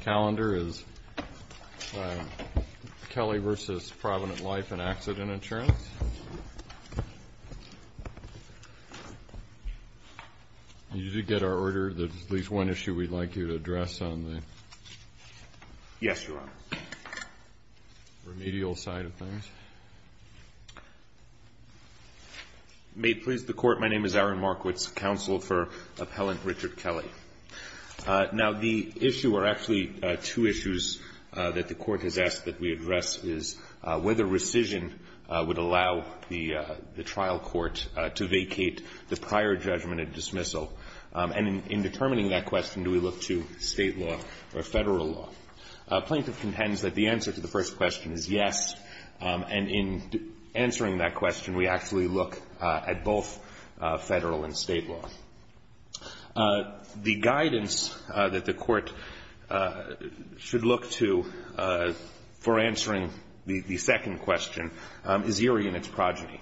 calendar is Kelly v. Provident Life and accident insurance. Did you get our order that at least one issue we'd like you to address on the remedial side of things? May it please the Court, my name is Aaron Markowitz, counsel for Appellant Richard Kelly. Now the issue or actually two issues that the Court has asked that we address is whether rescission would allow the trial court to vacate the prior judgment at dismissal. And in determining that question, do we look to state law or federal law? Plaintiff contends that the answer to the first question is yes. And in answering that question, we actually look at both federal and state law. The guidance that the Court should look to for answering the second question is eerie in its progeny.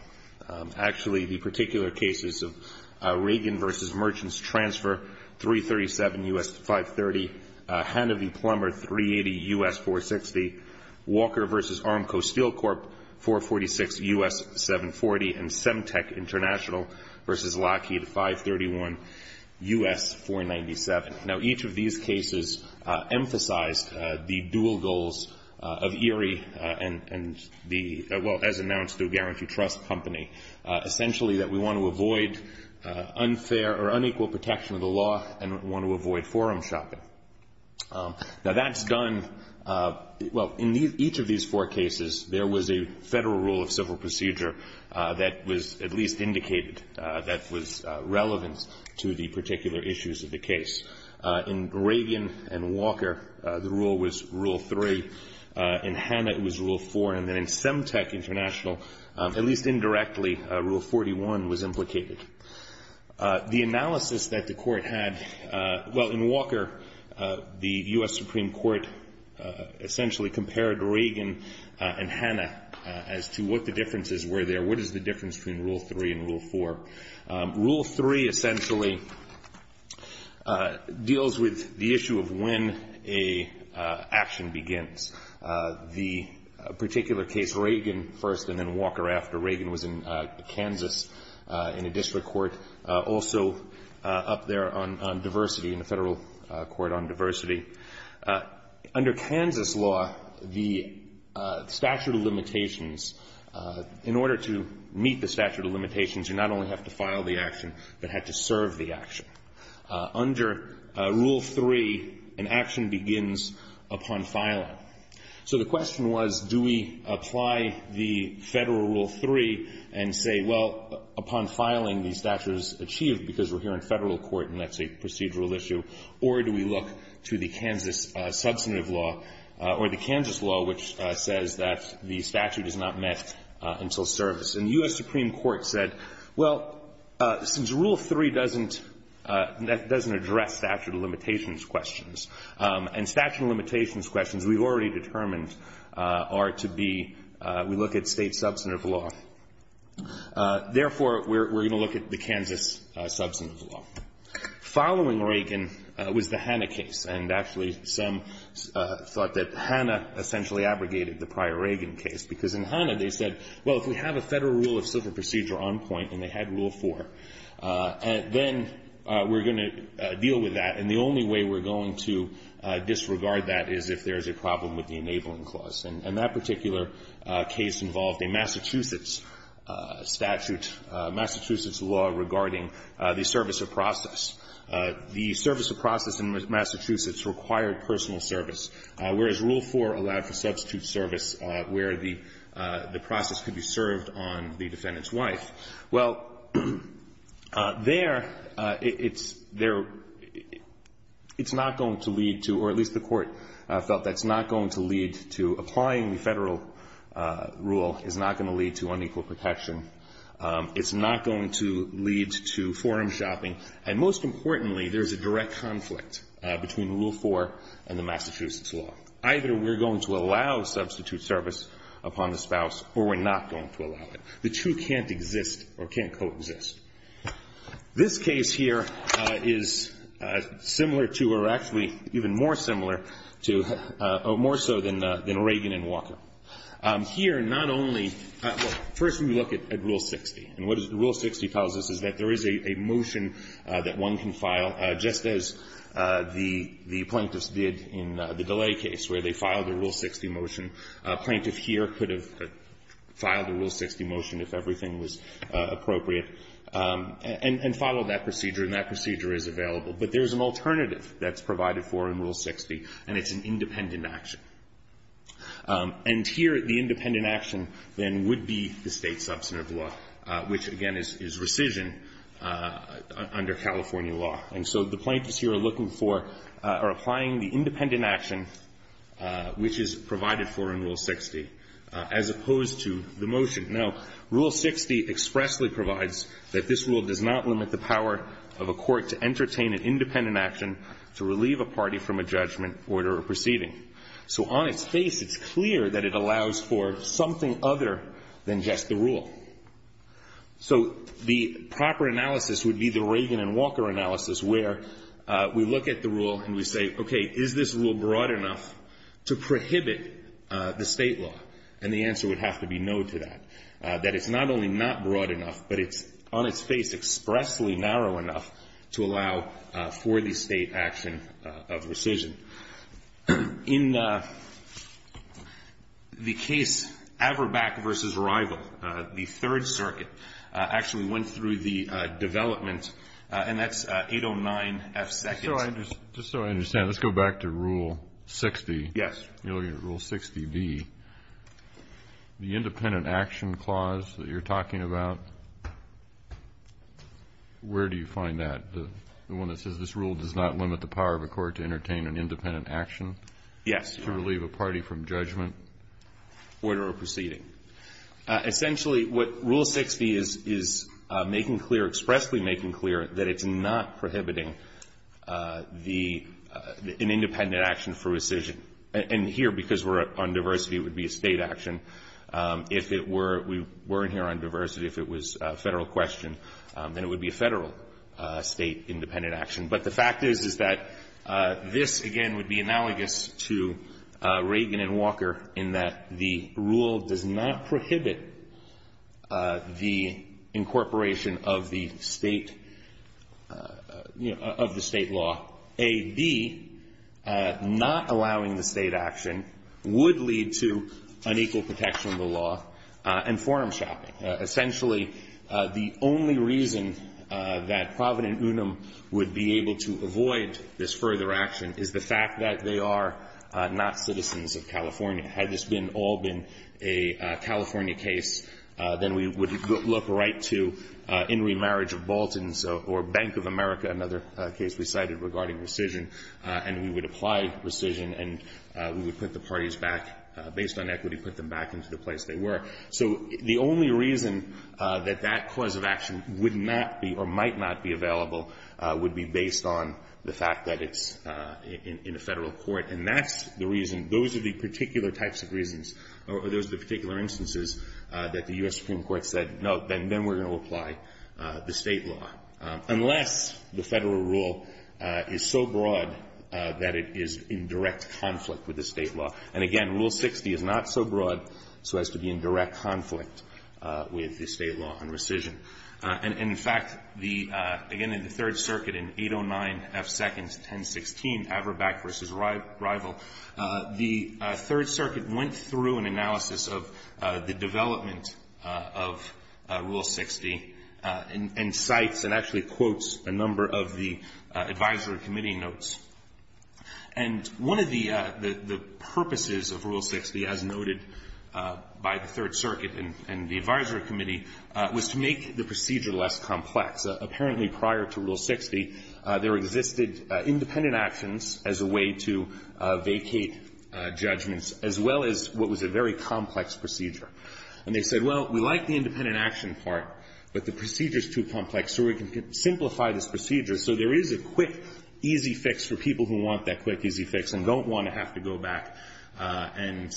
Actually the particular cases of Reagan v. Merchants Transfer, 337 U.S. 530, Hanovy Plumber, 380 U.S. 460, Walker v. 531, U.S. 497. Now each of these cases emphasized the dual goals of ERIE and the, well, as announced, the Guaranty Trust Company, essentially that we want to avoid unfair or unequal protection of the law and want to avoid forum shopping. Now that's done, well, in each of these four cases, there was a federal rule of civil procedure that was at least indicated that was relevant to the particular issues of the case. In Reagan and Walker, the rule was Rule 3. In Hanna, it was Rule 4. And then in Semtec International, at least indirectly, Rule 41 was implicated. The analysis that the Court had, well, in Walker, the U.S. Supreme Court essentially compared Reagan and Hanna as to what the differences were there, what is the difference between Rule 3 and Rule 4. Rule 3 essentially deals with the issue of when an action begins. The particular case, Reagan first and then Walker after, Reagan was in Kansas in a district court, also up there on diversity, in a federal court on diversity. Under Kansas law, the statute of limitations, in order to meet the statute of limitations, you not only have to file the action, but have to serve the action. Under Rule 3, an action begins upon filing. So the question was, do we apply the federal Rule 3 and say, well, upon filing, the statute is achieved because we're here in federal court and that's a procedural issue or do we look to the Kansas substantive law or the Kansas law which says that the statute is not met until service. And the U.S. Supreme Court said, well, since Rule 3 doesn't address statute of limitations questions and statute of limitations questions we've already determined are to be, we look at state substantive law. Therefore, we're going to look at the Kansas substantive law. Following Reagan was the Hanna case. And actually some thought that Hanna essentially abrogated the prior Reagan case because in Hanna they said, well, if we have a federal rule of civil procedure on point and they had Rule 4, then we're going to deal with that. And the only way we're going to disregard that is if there's a problem with the enabling clause. And that particular case involved a Massachusetts statute, Massachusetts law regarding the federal rule of civil procedure. And that particular case involved the service of process. The service of process in Massachusetts required personal service, whereas Rule 4 allowed for substitute service where the process could be served on the defendant's wife. Well, there it's not going to lead to, or at least the court felt that it's not going to lead to, applying the federal rule is not going to lead to unequal protection. It's not going to lead to forum shopping. And most importantly, there's a direct conflict between Rule 4 and the Massachusetts law. Either we're going to allow substitute service upon the spouse or we're not going to allow it. The two can't exist or can't coexist. This case here is similar to, or actually even more similar to, or more so than Reagan and Reagan. And so, of course, we look at Rule 60. And what Rule 60 tells us is that there is a motion that one can file just as the plaintiffs did in the delay case where they filed a Rule 60 motion. A plaintiff here could have filed a Rule 60 motion if everything was appropriate and followed that procedure, and that procedure is available. But there's an alternative that's provided for in Rule 60, and it's an independent action. And here the independent action, then, would be the state substantive law, which, again, is rescission under California law. And so the plaintiffs here are looking for, are applying the independent action which is provided for in Rule 60, as opposed to the motion. Now, Rule 60 expressly provides that this rule does not limit the power of a court to entertain an independent action to relieve a party from a judgment, order, or proceeding. So on its face, it's clear that it allows for something other than just the rule. So the proper analysis would be the Reagan and Walker analysis, where we look at the rule and we say, okay, is this rule broad enough to prohibit the state law? And the answer would have to be no to that, that it's not only not broad enough, but it's on its face expressly narrow enough to allow for the state action of rescission. In the case Averbach v. Rival, the Third Circuit actually went through the development, and that's 809F2. Just so I understand, let's go back to Rule 60. Yes. Rule 60B, the independent action clause that you're talking about, where do you find that, the one that says this rule does not limit the power of a court to entertain an independent action? Yes. To relieve a party from judgment? Order, or proceeding. Essentially, what Rule 60 is making clear, expressly making clear, that it's not prohibiting the independent action for rescission. And here, because we're on diversity, it would be a state action. If it were, we weren't here on diversity. If it was a Federal question, then it would be a Federal state independent action. But the fact is, is that this, again, would be analogous to Reagan and Walker, in that the rule does not prohibit the incorporation of the state, you know, of the state law. A, B, not allowing the state action would lead to unequal protection from the law, and forum shopping. Essentially, the only reason that Provident Unum would be able to avoid this further action is the fact that they are not citizens of California. Had this been, all been a California case, then we would look right to In Re Marriage of Baltans or Bank of America, another case we cited regarding rescission, and we would apply rescission, and we would put the parties back, based on equity, put them back into the place they were. So the only reason that that cause of action would not be, or might not be available, would be based on the fact that it's in a Federal court. And that's the reason, those are the particular types of reasons, or those are the particular instances that the U.S. Supreme Court said, no, then we're going to apply the state law. Unless the Federal rule is so broad that it is in direct conflict with the state law. And, again, Rule 60 is not so broad so as to be in direct conflict with the state law on rescission. And, in fact, the, again, in the Third Circuit, in 809 F. Seconds, 1016, Avrabak v. Rival, the Third Circuit went through an analysis of the development of Rule 60 and cites, and that's what I'm going to talk about in a moment, actually quotes a number of the advisory committee notes. And one of the purposes of Rule 60, as noted by the Third Circuit and the advisory committee, was to make the procedure less complex. Apparently, prior to Rule 60, there existed independent actions as a way to vacate judgments, as well as what was a very complex procedure. And they said, well, we like the independent action part, but the procedure is too complex, so we can simplify this procedure so there is a quick, easy fix for people who want that quick, easy fix and don't want to have to go back and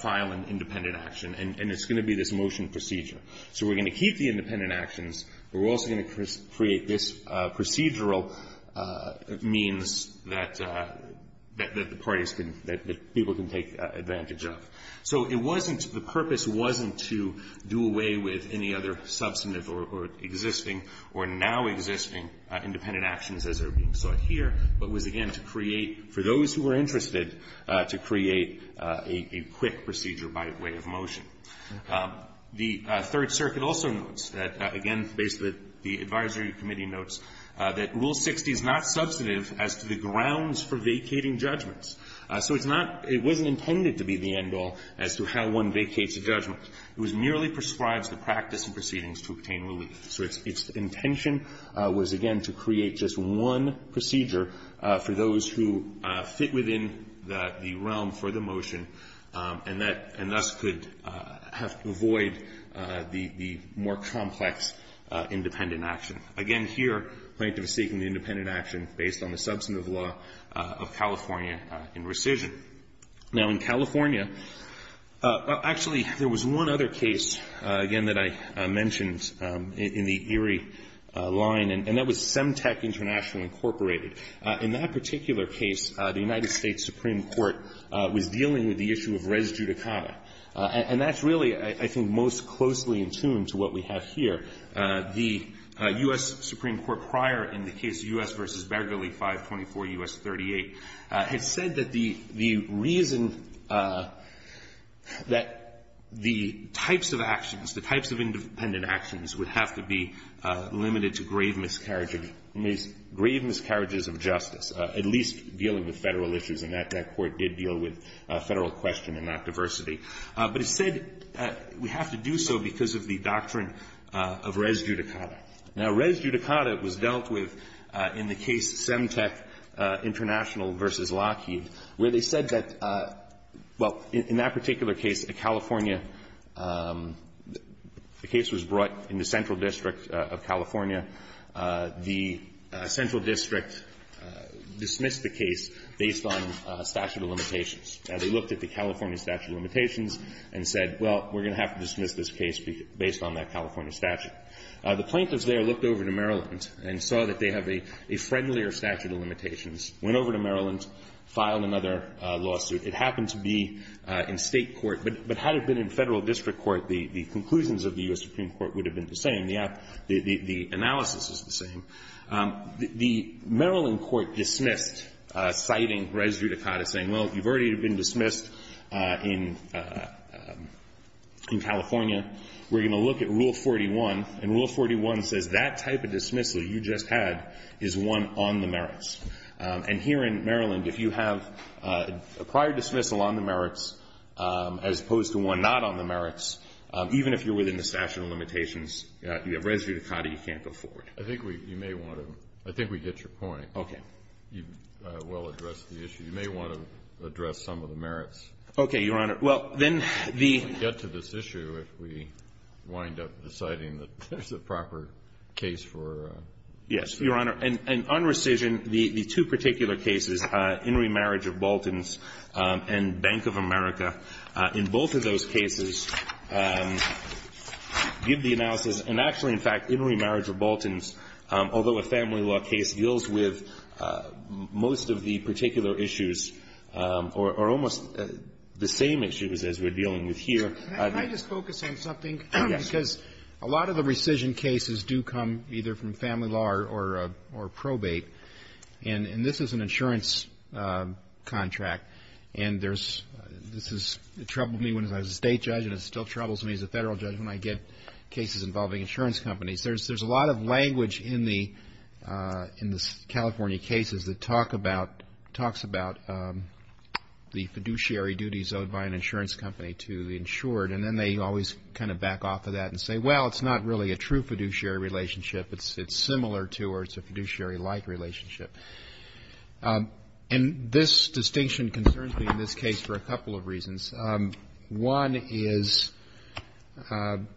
file an independent action. And it's going to be this motion procedure. So we're going to keep the independent actions, but we're also going to create this procedural means that the parties can, that people can take advantage of. So it wasn't, the purpose wasn't to do away with any other substantive or existing procedure. It wasn't to do away with existing or now existing independent actions as are being sought here, but was, again, to create, for those who were interested, to create a quick procedure by way of motion. The Third Circuit also notes that, again, basically the advisory committee notes that Rule 60 is not substantive as to the grounds for vacating judgments. So it's not, it wasn't intended to be the end-all as to how one vacates a judgment. It merely prescribes the practice and proceedings to obtain relief. So its intention was, again, to create just one procedure for those who fit within the realm for the motion and thus could avoid the more complex independent action. Again, here, plaintiff is seeking the independent action based on the substantive law of California in rescission. Now, in California, actually, there was one other case, again, that I mentioned in the Erie line, and that was Semtec International, Incorporated. In that particular case, the United States Supreme Court was dealing with the issue of res judicata. And that's really, I think, most closely in tune to what we have here. The U.S. Supreme Court prior in the case U.S. v. Begley 524 U.S. 38 had said that the, the Supreme Court had said that the reason that the types of actions, the types of independent actions would have to be limited to grave miscarriages, grave miscarriages of justice, at least dealing with Federal issues. And that Court did deal with Federal question and not diversity. But it said we have to do so because of the doctrine of res judicata. Now, res judicata was dealt with in the case Semtec International v. Lockheed, where they said that the Supreme Court had said, well, in that particular case, a California, the case was brought in the central district of California. The central district dismissed the case based on statute of limitations. They looked at the California statute of limitations and said, well, we're going to have to dismiss this case based on that California statute. The plaintiffs there looked over to Maryland and saw that they have a friendlier statute of limitations, went over to Maryland, filed another lawsuit. It happened to be in state court, but had it been in Federal district court, the conclusions of the U.S. Supreme Court would have been the same. The analysis is the same. The Maryland court dismissed, citing res judicata, saying, well, you've already been dismissed in California. We're going to look at Rule 41, and Rule 41 says that type of dismissal you just had is one on the map. It's one on the merits. And here in Maryland, if you have a prior dismissal on the merits, as opposed to one not on the merits, even if you're within the statute of limitations, you have res judicata you can't go forward. I think we may want to – I think we get your point. Okay. You well addressed the issue. You may want to address some of the merits. Okay, Your Honor. Well, then the – We can get to this issue if we wind up deciding that there's a proper case for – Yes, Your Honor. And on rescission, the two particular cases, In re Marriage of Baltans and Bank of America, in both of those cases give the analysis, and actually, in fact, In re Marriage of Baltans, although a family law case deals with most of the particular issues or almost the same issues as we're dealing with here – Can I just focus on something? Yes. Because a lot of the rescission cases do come either from family law or probate. And this is an insurance contract. And there's – this has troubled me when I was a state judge and it still troubles me as a federal judge when I get cases involving insurance companies. There's a lot of language in the California cases that talk about – talks about the fiduciary duties owed by an insurance company to the insured. And then they always kind of back off of that and say, well, it's not really a true fiduciary relationship. It's similar to or it's a fiduciary-like relationship. And this distinction concerns me in this case for a couple of reasons. One is, to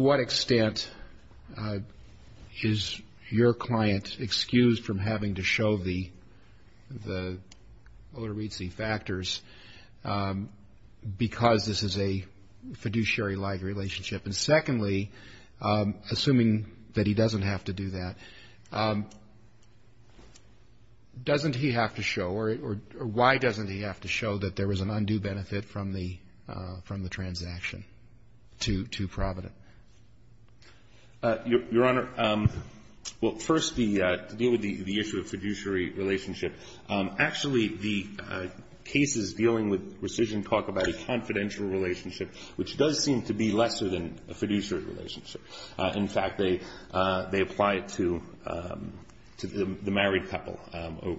what extent is your client excused from having to show the otorizzi factors because this is a fiduciary-like relationship? And secondly, assuming that he doesn't have to do that, doesn't he have to show – or why doesn't he have to show that there was an undue benefit from the transaction to Provident? Your Honor, well, first, to deal with the issue of fiduciary relationship, actually the cases dealing with rescission talk about a confidential relationship, which does seem to be lesser than a fiduciary relationship. In fact, they apply it to the married couple,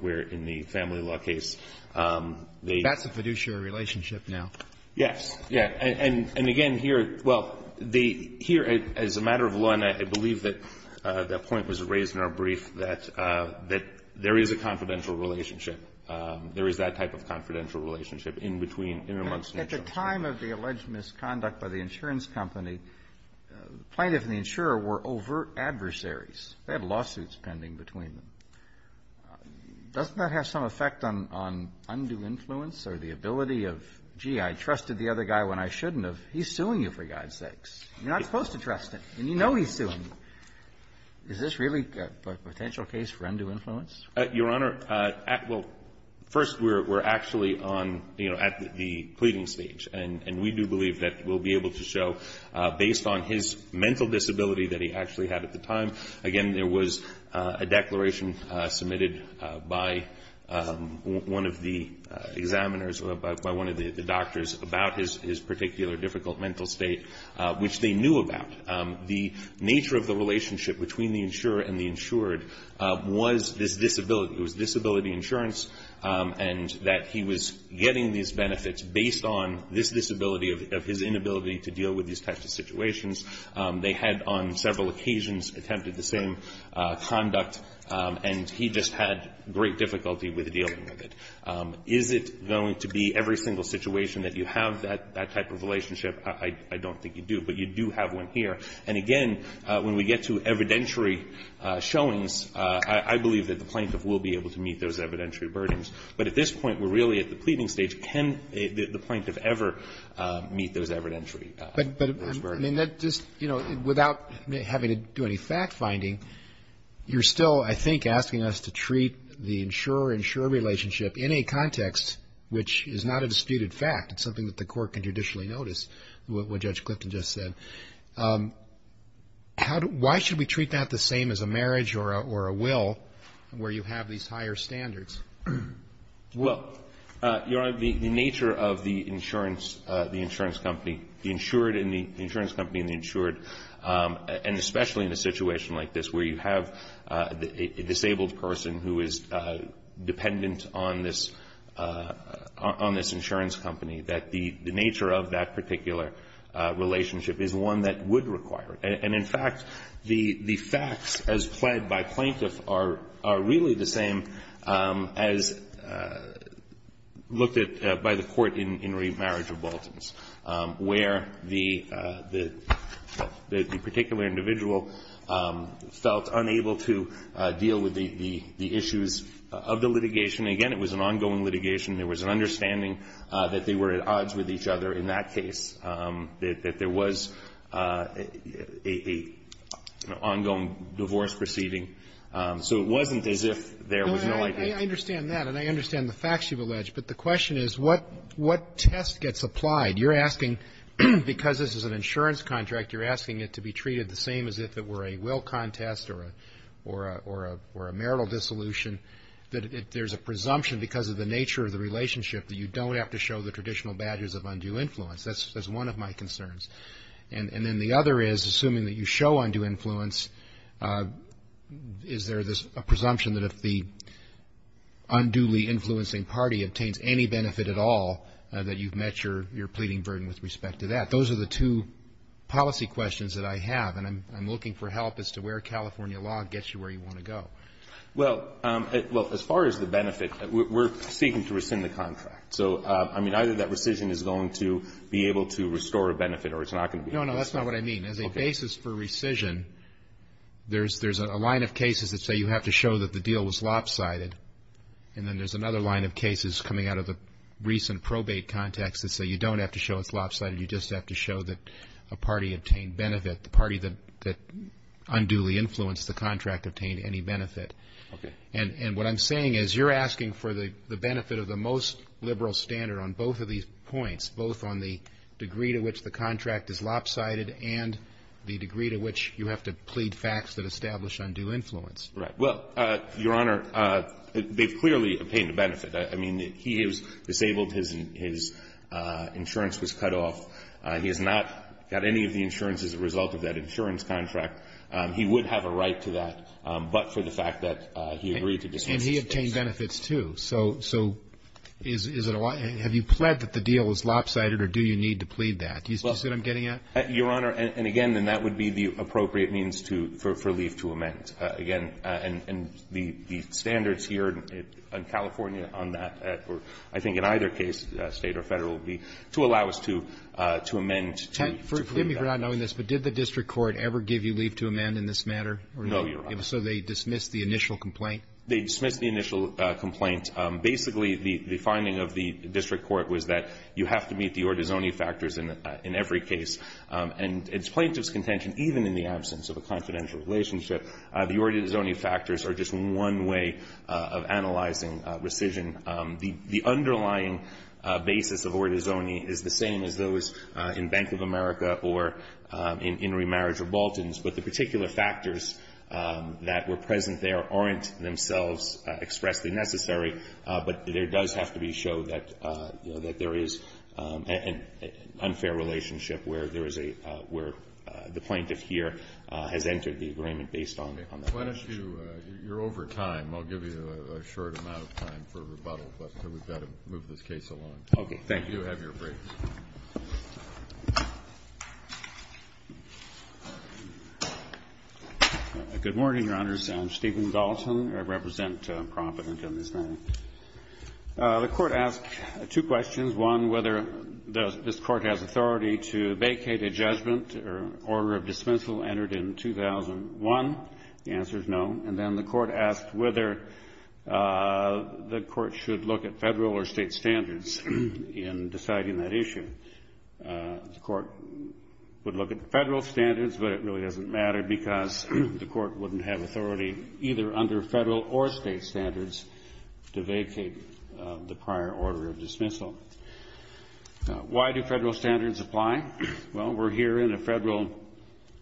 where in the family law case, they – That's a fiduciary relationship now. Yes. Yes. And again, here – well, the – here, as a matter of law, and I believe that point was raised in our brief, that there is a confidential relationship. There is that type of confidential relationship in between – in and amongst insurance. At the time of the alleged misconduct by the insurance company, plaintiff and the insurer were overt adversaries. They had lawsuits pending between them. Doesn't that have some effect on undue influence or the ability of, gee, I trusted the other guy when I shouldn't have. He's suing you, for God's sakes. You're not supposed to trust him, and you know he's suing you. Is this really a potential case for undue influence? Your Honor, at – well, first, we're actually on – you know, at the pleading stage, and we do believe that we'll be able to show, based on his mental disability that he actually had at the time. Again, there was a declaration submitted by one of the examiners, by one of the doctors, about his particular difficult mental state, which they knew about. The nature of the relationship between the insurer and the insured was this disability. It was disability insurance, and that he was getting these benefits based on this disability of his inability to deal with these types of situations. They had, on several occasions, attempted the same conduct, and he just had great difficulty with dealing with it. Is it going to be every single situation that you have that type of relationship? I don't think you do, but you do have one here. And again, when we get to evidentiary showings, I believe that the plaintiff will be able to meet those evidentiary burdens. But at this point, we're really at the pleading stage. Can the plaintiff ever meet those evidentiary burdens? But, I mean, that just – you know, without having to do any fact-finding, you're still, I think, asking us to treat the insurer-insurer relationship in a context which is not a disputed fact. It's something that the court can traditionally notice, what Judge Clifton just said. Why should we treat that the same as a marriage or a will, where you have these higher standards? Well, Your Honor, the nature of the insurance company, the insured and the insurance company and the insured, and especially in a situation like this where you have a disabled person who is dependent on this insurance company, that the nature of that particular relationship is one that would require it. And, in fact, the facts as pled by plaintiff are really the same as looked at by the court in remarriage of Baltans, where the particular individual felt unable to deal with the issues of the litigation. Again, it was an ongoing litigation. There was an understanding that they were at odds with each other in that case, that there was an ongoing divorce proceeding. So it wasn't as if there was no idea. I understand that, and I understand the facts you've alleged. But the question is, what test gets applied? You're asking, because this is an insurance contract, you're asking it to be treated the same as if it were a will contest or a marital dissolution, that there's a presumption because of the nature of the relationship that you don't have to show the traditional badges of undue influence. That's one of my concerns. And then the other is, assuming that you show undue influence, is there a presumption that if the unduly influencing party obtains any benefit at all, that you've met your pleading burden with respect to that? Those are the two policy questions that I have. And I'm looking for help as to where California law gets you where you want to go. Well, as far as the benefit, we're seeking to rescind the contract. So, I mean, either that rescission is going to be able to restore a benefit or it's not going to be able to. No, no, that's not what I mean. As a basis for rescission, there's a line of cases that say you have to show that the deal was lopsided. And then there's another line of cases coming out of the recent probate context that say you don't have to show it's lopsided, you just have to show that a party obtained benefit. The party that unduly influenced the contract obtained any benefit. Okay. And what I'm saying is you're asking for the benefit of the most liberal standard on both of these points, both on the degree to which the contract is lopsided and the degree to which you have to plead facts that establish undue influence. Right. Well, Your Honor, they've clearly obtained a benefit. I mean, he is disabled. His insurance was cut off. He has not got any of the insurance as a result of that insurance contract. He would have a right to that, but for the fact that he agreed to dismiss this case. And he obtained benefits, too. So is it a lie? And the standards here in California on that, or I think in either case, State or Federal, to allow us to amend to claim that benefit. Forgive me for not knowing this, but did the district court ever give you leave to amend in this matter? No, Your Honor. So they dismissed the initial complaint? They dismissed the initial complaint. Basically, the finding of the district court was that you have to meet the Ordozoni factors in every case. And it's plaintiff's contention, even in the absence of a confidential relationship, the Ordozoni factors are just one way of analyzing rescission. The underlying basis of Ordozoni is the same as those in Bank of America or in remarriage or Baltans, but the particular factors that were present there aren't themselves expressly necessary, but there does have to be a show that there is an unfair relationship where the plaintiff here has entered the agreement based on that. You're over time. I'll give you a short amount of time for rebuttal. We've got to move this case along. Thank you. Good morning, Your Honors. I'm Stephen Dalton. I represent Provident on this matter. The Court asked two questions. One, whether this Court has authority to vacate a judgment or order of dismissal entered in 2001. The answer is no. And then the Court asked whether the Court should look at Federal or State standards in deciding that issue. The Court would look at Federal standards, but it really doesn't matter because the Court wouldn't have authority either under Federal or State standards to vacate the prior order of dismissal. Why do Federal standards apply? Well, we're here in a Federal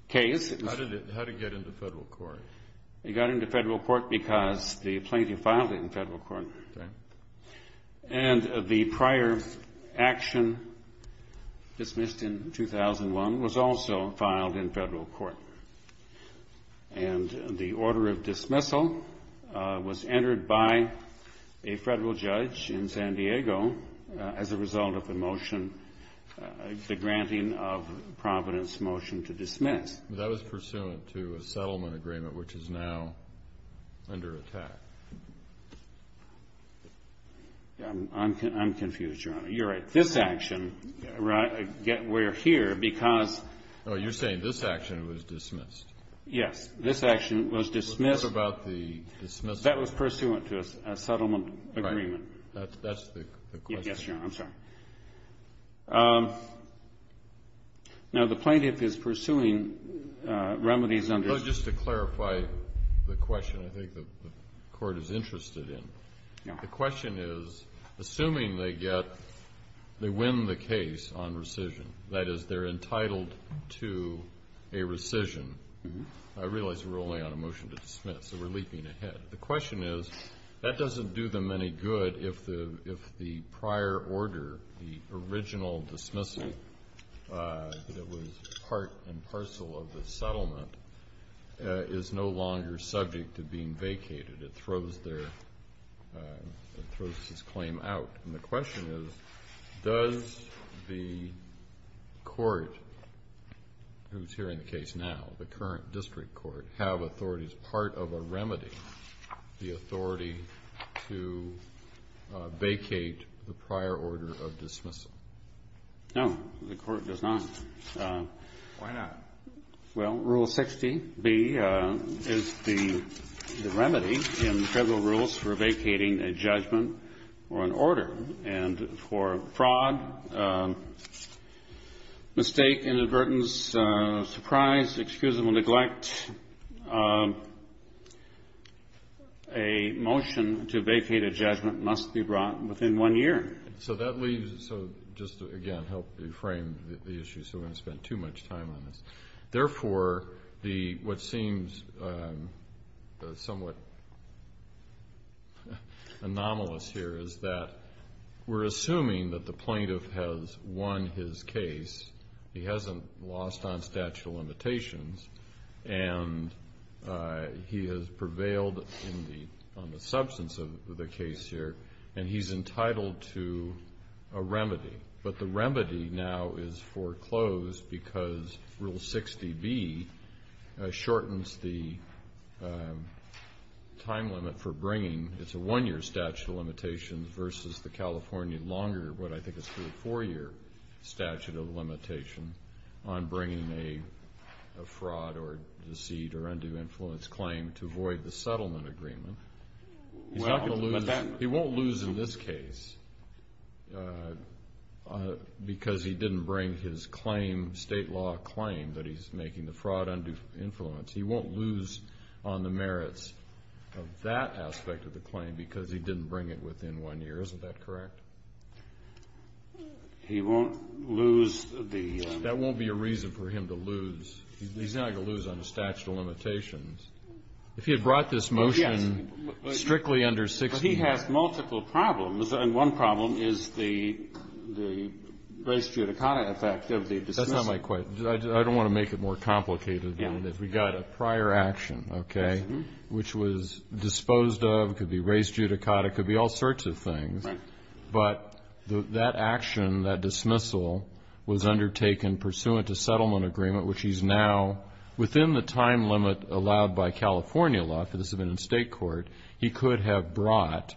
case. How did it get into Federal court? It got into Federal court because the plaintiff filed in Federal court. And the prior action dismissed in 2001 was also filed in Federal court. And the order of dismissal was entered by a Federal judge in San Diego as a result of the motion, the granting of Providence motion to dismiss. That was pursuant to a settlement agreement, which is now under attack. I'm confused, Your Honor. You're right. This action, we're here You're saying this action was dismissed? Yes. This action was dismissed. That was pursuant to a settlement agreement. That's the question? Yes, Your Honor. I'm sorry. Now, the plaintiff is pursuing remedies under Just to clarify the question, I think the Court is interested in. The question is, assuming they get they win the case on rescission. That is, they're entitled to a rescission. I realize we're only on a motion to dismiss, so we're leaping ahead. The question is, that doesn't do them any good if the prior order the original dismissal that was part and parcel of the settlement is no longer subject to being vacated. It throws their It throws this claim out. And the question is, does the Court who's hearing the case now the current district court, have authority as part of a remedy, the authority to vacate the prior order of dismissal? No, the Court does not. Why not? Well, Rule 60B is the remedy in federal rules for vacating a judgment or an order. And for fraud, mistake, inadvertence, surprise, excusable neglect, a motion to vacate a judgment must be brought within one year. So that leaves, so just to again help frame the issue so we don't spend too much time on this. Therefore, what seems somewhat anomalous here is that we're assuming that the plaintiff has won his case, he hasn't lost on statute of limitations, and he has prevailed on the substance of the case here, and he's entitled to a remedy. But the remedy now is foreclosed because Rule 60B shortens the time limit for bringing, it's a one year statute of limitations versus the California longer, what I think is a four year statute of limitation on bringing a fraud or deceit or undue influence claim to void the settlement agreement. He's not going to lose, he won't lose in this case because he didn't bring his claim, state law claim that he's making the fraud undue influence. He won't lose on the merits of that aspect of the claim because he didn't bring it within one year, isn't that correct? He won't lose the... That won't be a reason for him to lose he's not going to lose on the statute of limitations. If he had brought this motion strictly under 60... But he has multiple problems, and one problem is the race judicata effect of the dismissal. That's not my question. I don't want to make it more complicated than that. We've got a prior action which was disposed of, could be race judicata, could be all sorts of things. But that action, that dismissal was undertaken pursuant to settlement agreement, which he's now, within the time limit allowed by California law, because it's been in state court, he could have brought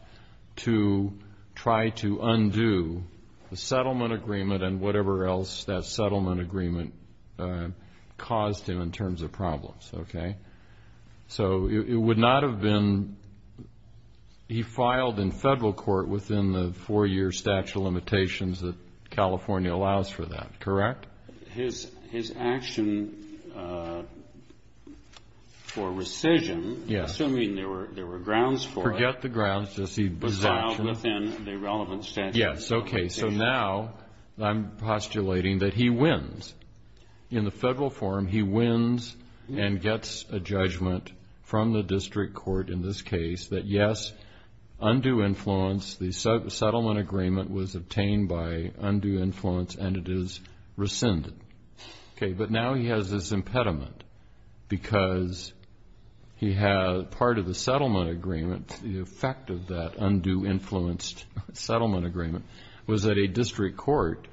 to try to undo the settlement agreement and whatever else that settlement agreement caused him in terms of problems. So it would not have been he filed in federal court within the four year statute of limitations that California allows for that, correct? His action for rescission assuming there were grounds for it was filed within the relevant statute. Yes, okay, so now I'm postulating that he wins. In the federal form he wins and gets a judgment from the district court in this case that yes undue influence, the settlement agreement was obtained by undue influence and it is rescinded. Okay, but now he has this impediment because he had part of the settlement agreement, the effect of that undue influenced settlement agreement was that a district court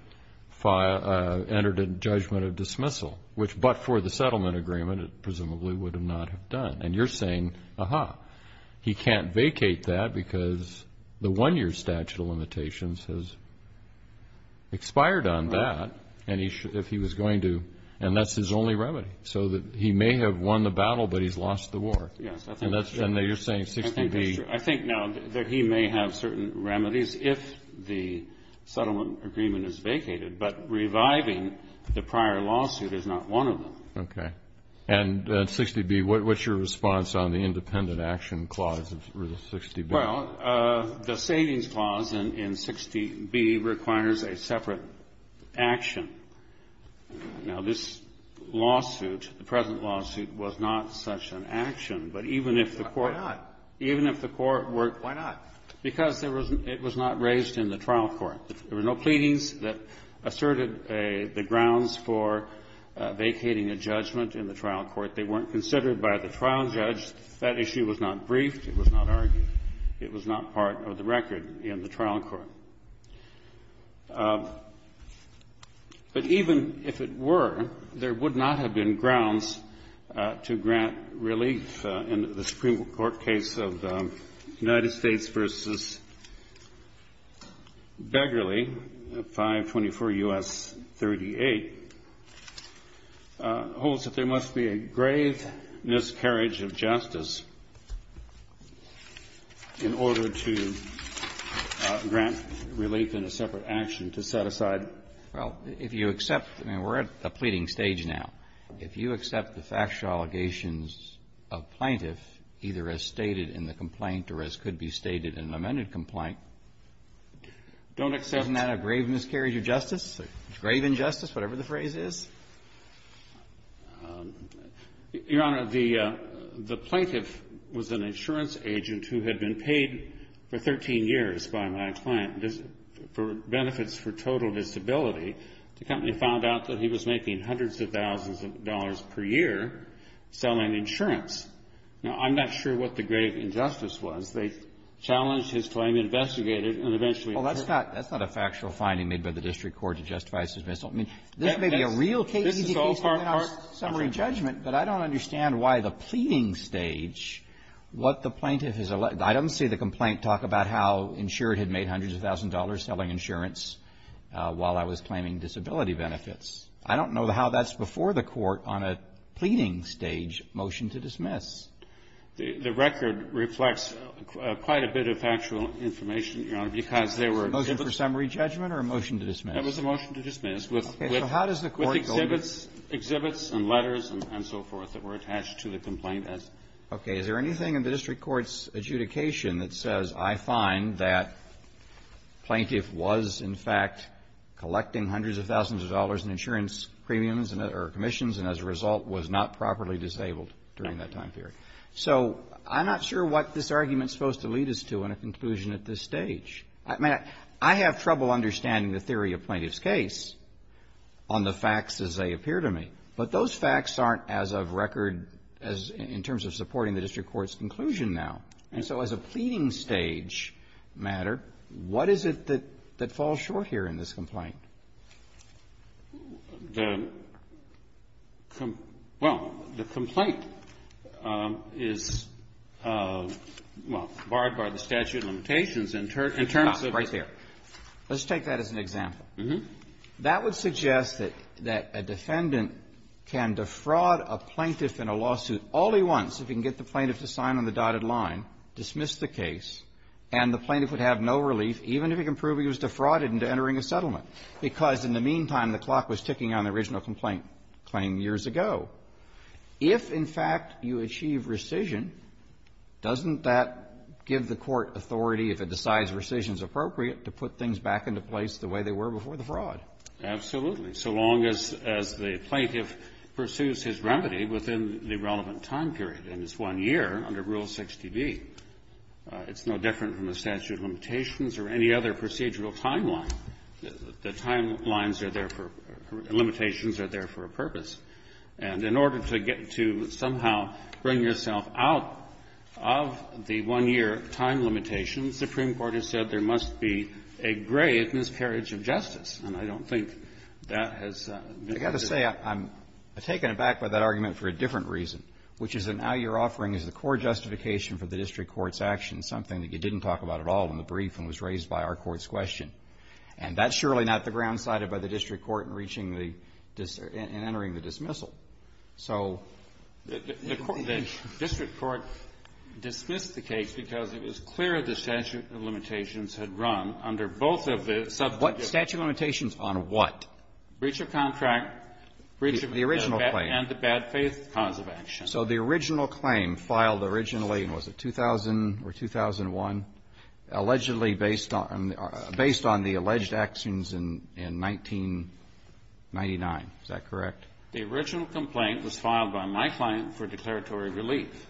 entered a judgment of dismissal, which but for the settlement agreement it presumably would not have done. And you're saying, aha, he can't vacate that because the one year statute of limitations has expired on that and he should, if he was going to, and that's his only remedy so that he may have won the battle but he's lost the war. And you're saying 60B... I think now that he may have certain remedies if the settlement agreement is vacated, but reviving the prior lawsuit is not one of them. And 60B, what's your response on the independent action clause of 60B? Well, the savings clause in 60B requires a separate action. Now this lawsuit, the present lawsuit, was not such an action. Why not? Because it was not raised in the trial court. There were no pleadings that asserted the grounds for vacating a judgment in the trial court. They weren't considered by the trial judge. That issue was not briefed. It was not argued. It was not part of the record in the trial court. But even if it were, there would not have been grounds to grant relief in the Supreme Court case of United States v. Begley 524 U.S. 38 holds that there must be a grave miscarriage of justice in order to grant relief in a separate action to set aside... Well, if you accept, I mean, we're at the pleading stage now. If you accept the factual allegations of plaintiff, either as stated in the complaint or as could be stated in an amended complaint... Don't accept... Isn't that a grave injustice, whatever the phrase is? Your Honor, the plaintiff was an insurance agent who had been paid for 13 years by my client for benefits for total disability. The company found out that he was making hundreds of thousands of dollars per year selling insurance. Now, I'm not sure what the grave injustice was. They challenged his claim, investigated, and eventually... Well, that's not a factual finding made by the district court to justify his dismissal. I mean, this may be a real case, summary judgment, but I don't understand why the pleading stage, what the plaintiff has alleged... I don't see the complaint talk about how insured had made hundreds of thousands of dollars selling insurance while I was claiming disability benefits. I don't know how that's before the court on a pleading stage motion to dismiss. The record reflects quite a bit of factual information, Your Honor, because there were... A motion for summary judgment or a motion to dismiss? It was a motion to dismiss with exhibits and letters and so forth that were attached to the complaint. Okay. Is there anything in the district court's adjudication that says, I find that plaintiff was, in fact, collecting hundreds of thousands of dollars in insurance premiums or commissions and as a result was not properly disabled during that time period? So I'm not sure what this argument is supposed to lead us to in a conclusion at this stage. I mean, I have trouble understanding the theory of plaintiff's case on the facts as they appear to me, but those facts aren't as of record as in terms of supporting the district court's conclusion now. And so as a pleading stage matter, what is it that falls short here in this complaint? The... Well, the complaint is, well, barred by the statute of limitations in terms of... Right there. Let's take that as an example. Mm-hmm. That would suggest that a defendant can defraud a plaintiff in a lawsuit all he wants if he can get the plaintiff to sign on the dotted line, dismiss the case, and the plaintiff would have no relief even if he can prove he was defrauded into entering a settlement. Because in the meantime, the clock was ticking on the original complaint claim years ago. If, in fact, you achieve rescission, doesn't that give the court authority, if it decides rescission is appropriate, to put things back into place the way they were before the fraud? Absolutely. So long as the plaintiff pursues his remedy within the relevant time period, and it's one year under Rule 60B. It's no different from the statute of limitations or any other limitations are there for a purpose. And in order to get to somehow bring yourself out of the one-year time limitations, the Supreme Court has said there must be a great miscarriage of justice. And I don't think that has... I've got to say, I'm taken aback by that argument for a different reason, which is that now you're offering as the core justification for the district court's action something that you didn't talk about at all in the brief and was raised by our court's question. And that's surely not the grounds cited by the district court in reaching the dis... in entering the dismissal. So... The district court dismissed the case because it was clear the statute of limitations had run under both of the subject... Statute of limitations on what? Breach of contract, breach of... The original claim. And the bad faith cause of action. So the original claim filed originally, was it 2000 or 2001, allegedly based on... based on the alleged actions in 1999. Is that correct? The original complaint was filed by my client for declaratory relief.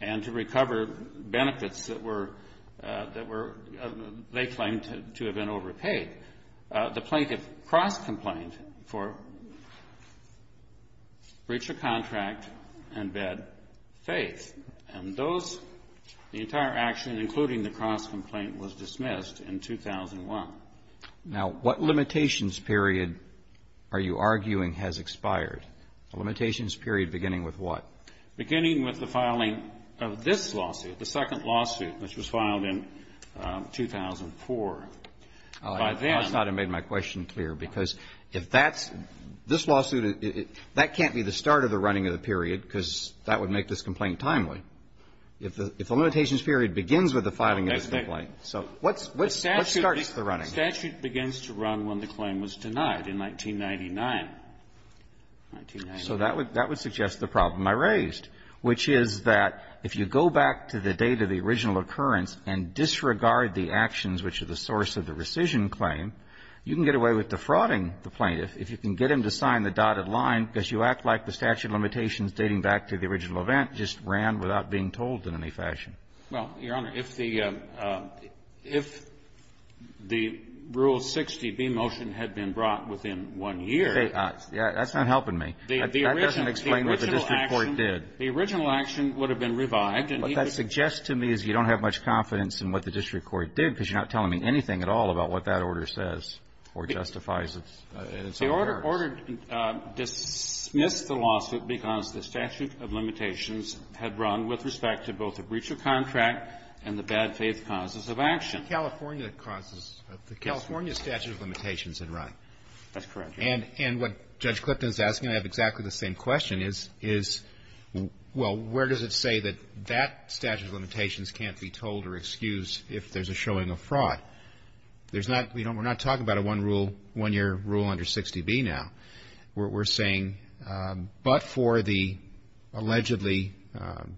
And to recover benefits that were... that were... they claimed to have been overpaid. The plaintiff cross-complained for breach of contract and bad faith. And those... the entire action, including the cross-complaint, was dismissed in 2001. Now, what limitations period are you arguing has expired? A limitations period beginning with what? Beginning with the filing of this lawsuit, the second lawsuit, which was filed in 2004. By then... I thought I made my question clear because if that's... this lawsuit... that can't be the start of the running of the period because that would make this complaint timely. If the limitations period begins with the filing of this complaint, so what's... what starts the running? The statute begins to run when the claim was denied in 1999. 1999. So that would... that would suggest the problem I raised, which is that if you go back to the date of the original occurrence and disregard the actions which are the source of the rescission claim, you can get away with defrauding the plaintiff. If you can get him to sign the dotted line because you act like the statute limitations dating back to the original event just ran without being told in any fashion. Well, Your Honor, if the if the Rule 60B motion had been brought within one year... That's not helping me. That doesn't explain what the district court did. The original action would have been revived and... What that suggests to me is you don't have much confidence in what the district court did because you're not telling me anything at all about what that Well, they ordered... dismissed the lawsuit because the statute of limitations had run with respect to both the breach of contract and the bad faith causes of action. The California causes... the California statute of limitations had run. That's correct, Your Honor. And what Judge Clifton is asking, I have exactly the same question, is... is... well, where does it say that that statute of limitations can't be told or excused if there's a showing of fraud? There's not... We're not talking about a one-year rule under 60B now. We're saying, but for the allegedly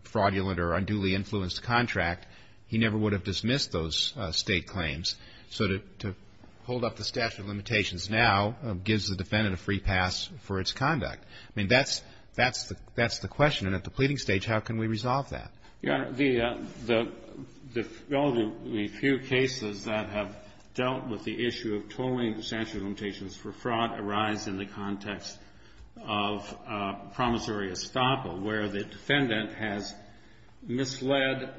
fraudulent or unduly influenced contract, he never would have dismissed those state claims. So to hold up the statute of limitations now gives the defendant a free pass for its conduct. I mean, that's the question. And at the pleading stage, how can we resolve that? Your Honor, the only few cases that have dealt with the issue of tolling statute of limitations for fraud arise in the context of promissory estoppel, where the defendant has misled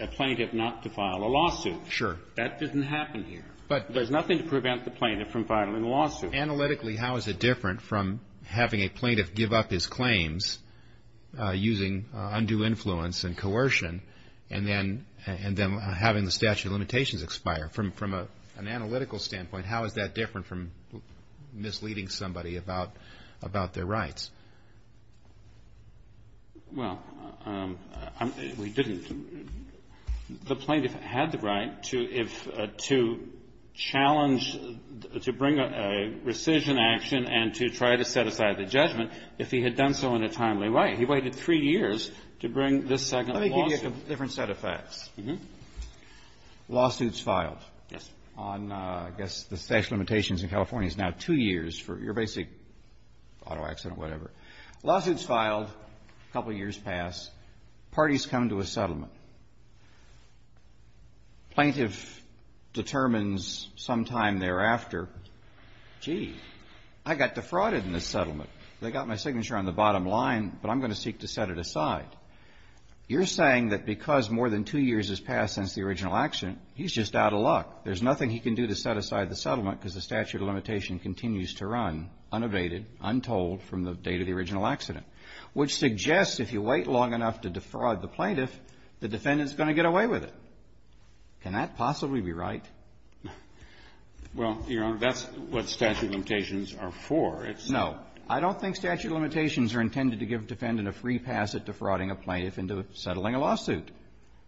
a plaintiff not to file a lawsuit. Sure. That didn't happen here. But... There's nothing to prevent the plaintiff from filing a lawsuit. Analytically, how is it different from having a plaintiff give up his claims using undue influence and coercion and then having the statute of limitations expire? From an analytical standpoint, how is that different from misleading somebody about their rights? Well, we didn't... The plaintiff had the right to challenge, to bring a rescission action and to try to set aside the judgment if he had done so in a timely way. He waited three I'm going to give you a set of facts. Mm-hmm. Lawsuits filed. Yes. On, I guess, the statute of limitations in California is now two years for your basic auto accident, whatever. Lawsuits filed, a couple years pass. Parties come to a settlement. Plaintiff determines sometime thereafter, Gee, I got defrauded in this settlement. They got my signature on the bottom line, but I'm going to seek to set it aside. You're saying that because more than two years has passed since the original accident, he's just out of luck. There's nothing he can do to set aside the settlement because the statute of limitation continues to run unabated, untold from the date of the original accident, which suggests if you wait long enough to defraud the plaintiff, the defendant's going to get away with it. Can that possibly be right? Well, Your Honor, that's what statute of limitations are for. No. I don't think statute of limitations are intended to give a defendant a free pass at defrauding a plaintiff into settling a lawsuit.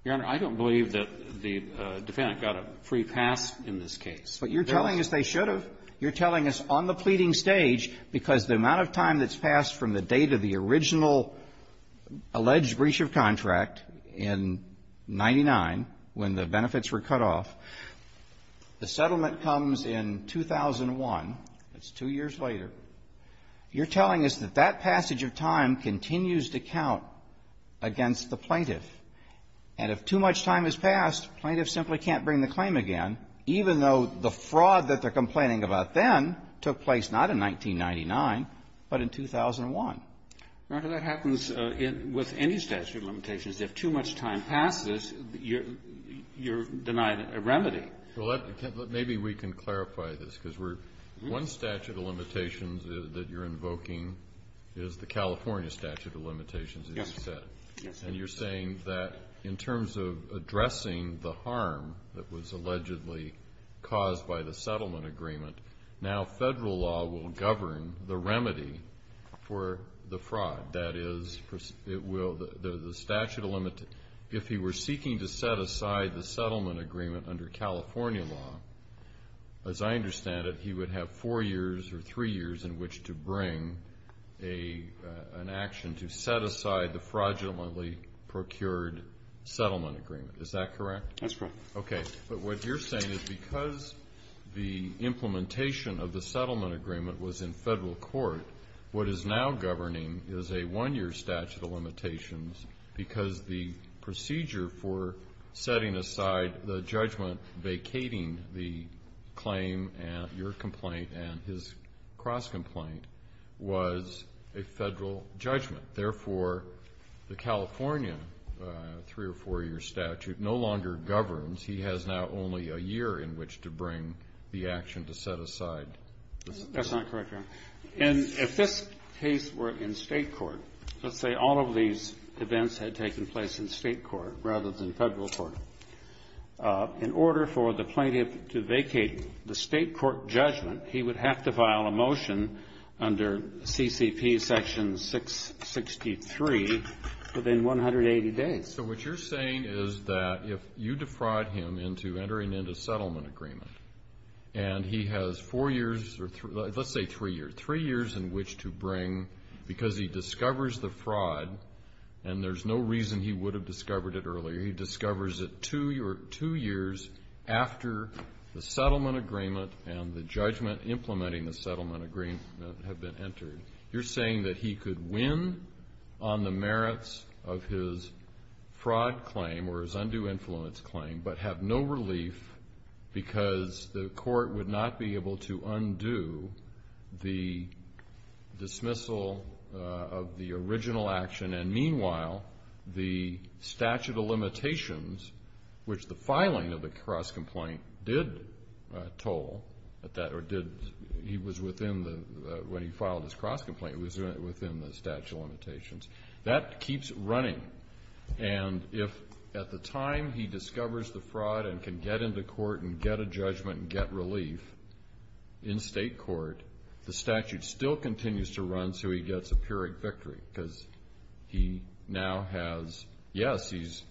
Your Honor, I don't believe that the defendant got a free pass in this case. But you're telling us they should have. You're telling us on the pleading stage, because the amount of time that's passed from the date of the original alleged breach of contract in 99, when the settlement comes in 2001, that's two years later, you're telling us that that passage of time continues to count against the plaintiff. And if too much time has passed, plaintiff simply can't bring the claim again, even though the fraud that they're complaining about then took place not in 1999, but in 2001. Your Honor, that happens with any statute of limitations. If too much time passes, you're denying a remedy. Well, maybe we can clarify this, because one statute of limitations that you're invoking is the California statute of limitations. And you're saying that in terms of addressing the harm that was allegedly caused by the settlement agreement, now Federal law will govern the remedy for the fraud. That is, if he were seeking to set aside the settlement agreement under California law, as I understand it, he would have four years or three years in which to bring an action to set aside the fraudulently procured settlement agreement. Is that correct? That's correct. Okay. But what you're saying is because the implementation of the settlement agreement was in Federal court, what is now governing is a one-year statute of limitations, because the procedure for setting aside the judgment vacating the claim and your complaint and his cross-complaint was a Federal judgment. Therefore, the California three- or four-year statute no longer governs. He has now only a year in which to bring the action to set aside That's not correct, Ron. And if this case were in State court, let's say all of these events had taken place in State court rather than Federal court, in order for the plaintiff to vacate the State court judgment, he would have to file a motion under CCP section 663 within 180 days. So what you're saying is that if you defraud him into entering into settlement agreement and he has four years, let's say three years, three years in which to bring because he discovers the fraud and there's no reason he would have discovered it earlier. He discovers it two years after the settlement agreement and the judgment implementing the settlement agreement have been entered. You're saying that he could win on the merits of his fraud claim or his undue influence claim but have no relief because the court would not be able to undo the dismissal of the original action and meanwhile the statute of limitations which the filing of the cross complaint did toll, or did, he was within when he filed his cross complaint, it was within the statute of limitations. That keeps running and if at the time he discovers the fraud and can get into court and get a judgment and get relief in State court the statute still continues to run so he gets a pyrrhic victory because he now has yes, he's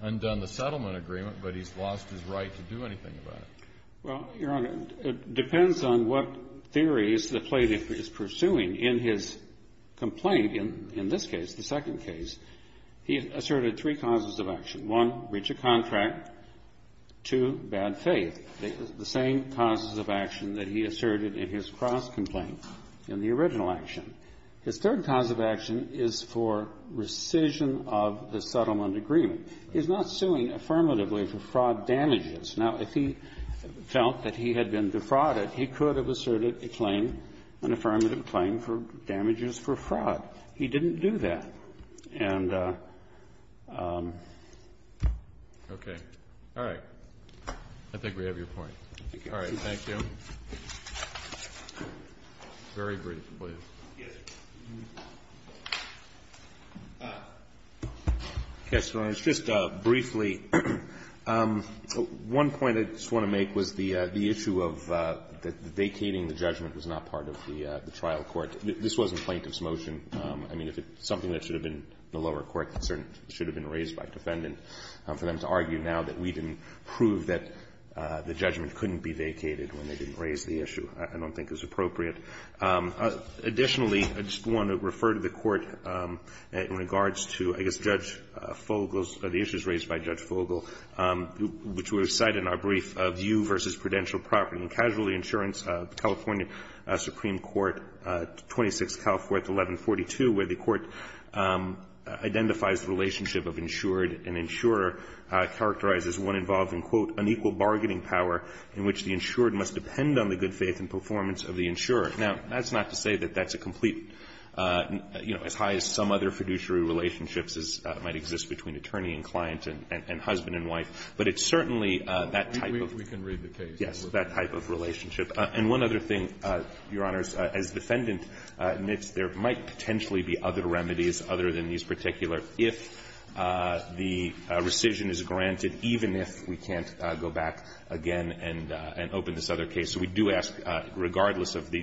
undone the settlement agreement but he's lost his right to do anything about it. Well, Your Honor, it depends on what theory the plaintiff is pursuing in his second case. He asserted three causes of action. One, breach of contract. Two, bad faith. The same causes of action that he asserted in his cross complaint in the original action. His third cause of action is for rescission of the settlement agreement. He's not suing affirmatively for fraud damages. Now if he felt that he had been defrauded he could have asserted a claim, an affirmative claim for damages for fraud. He didn't do that. And... Okay. All right. I think we have your point. All right. Thank you. Very briefly. Yes, Your Honor. Just briefly one point I just want to make was the issue of vacating the judgment was not part of the trial court. This wasn't plaintiff's motion. Something that should have been the lower court concern should have been raised by defendant. For them to argue now that we didn't prove that the judgment couldn't be vacated when they didn't raise the issue I don't think is appropriate. Additionally, I just want to refer to the court in regards to, I guess, Judge Fogle's the issues raised by Judge Fogle which were cited in our brief, View vs. Prudential Property and Casualty Insurance, California Supreme Court 26 California 1142 where the court identifies the relationship of insured and insurer characterizes one involving quote, unequal bargaining power in which the insured must depend on the good faith and performance of the insurer. Now that's not to say that that's a complete as high as some other fiduciary relationships might exist between attorney and client and husband and wife but it's certainly that type of that type of relationship. And one other thing, Your Honors, as defendant there might potentially be other remedies other than these particular if the rescission is granted even if we can't go back again and open this other case. So we do ask regardless of the decision. Thank you.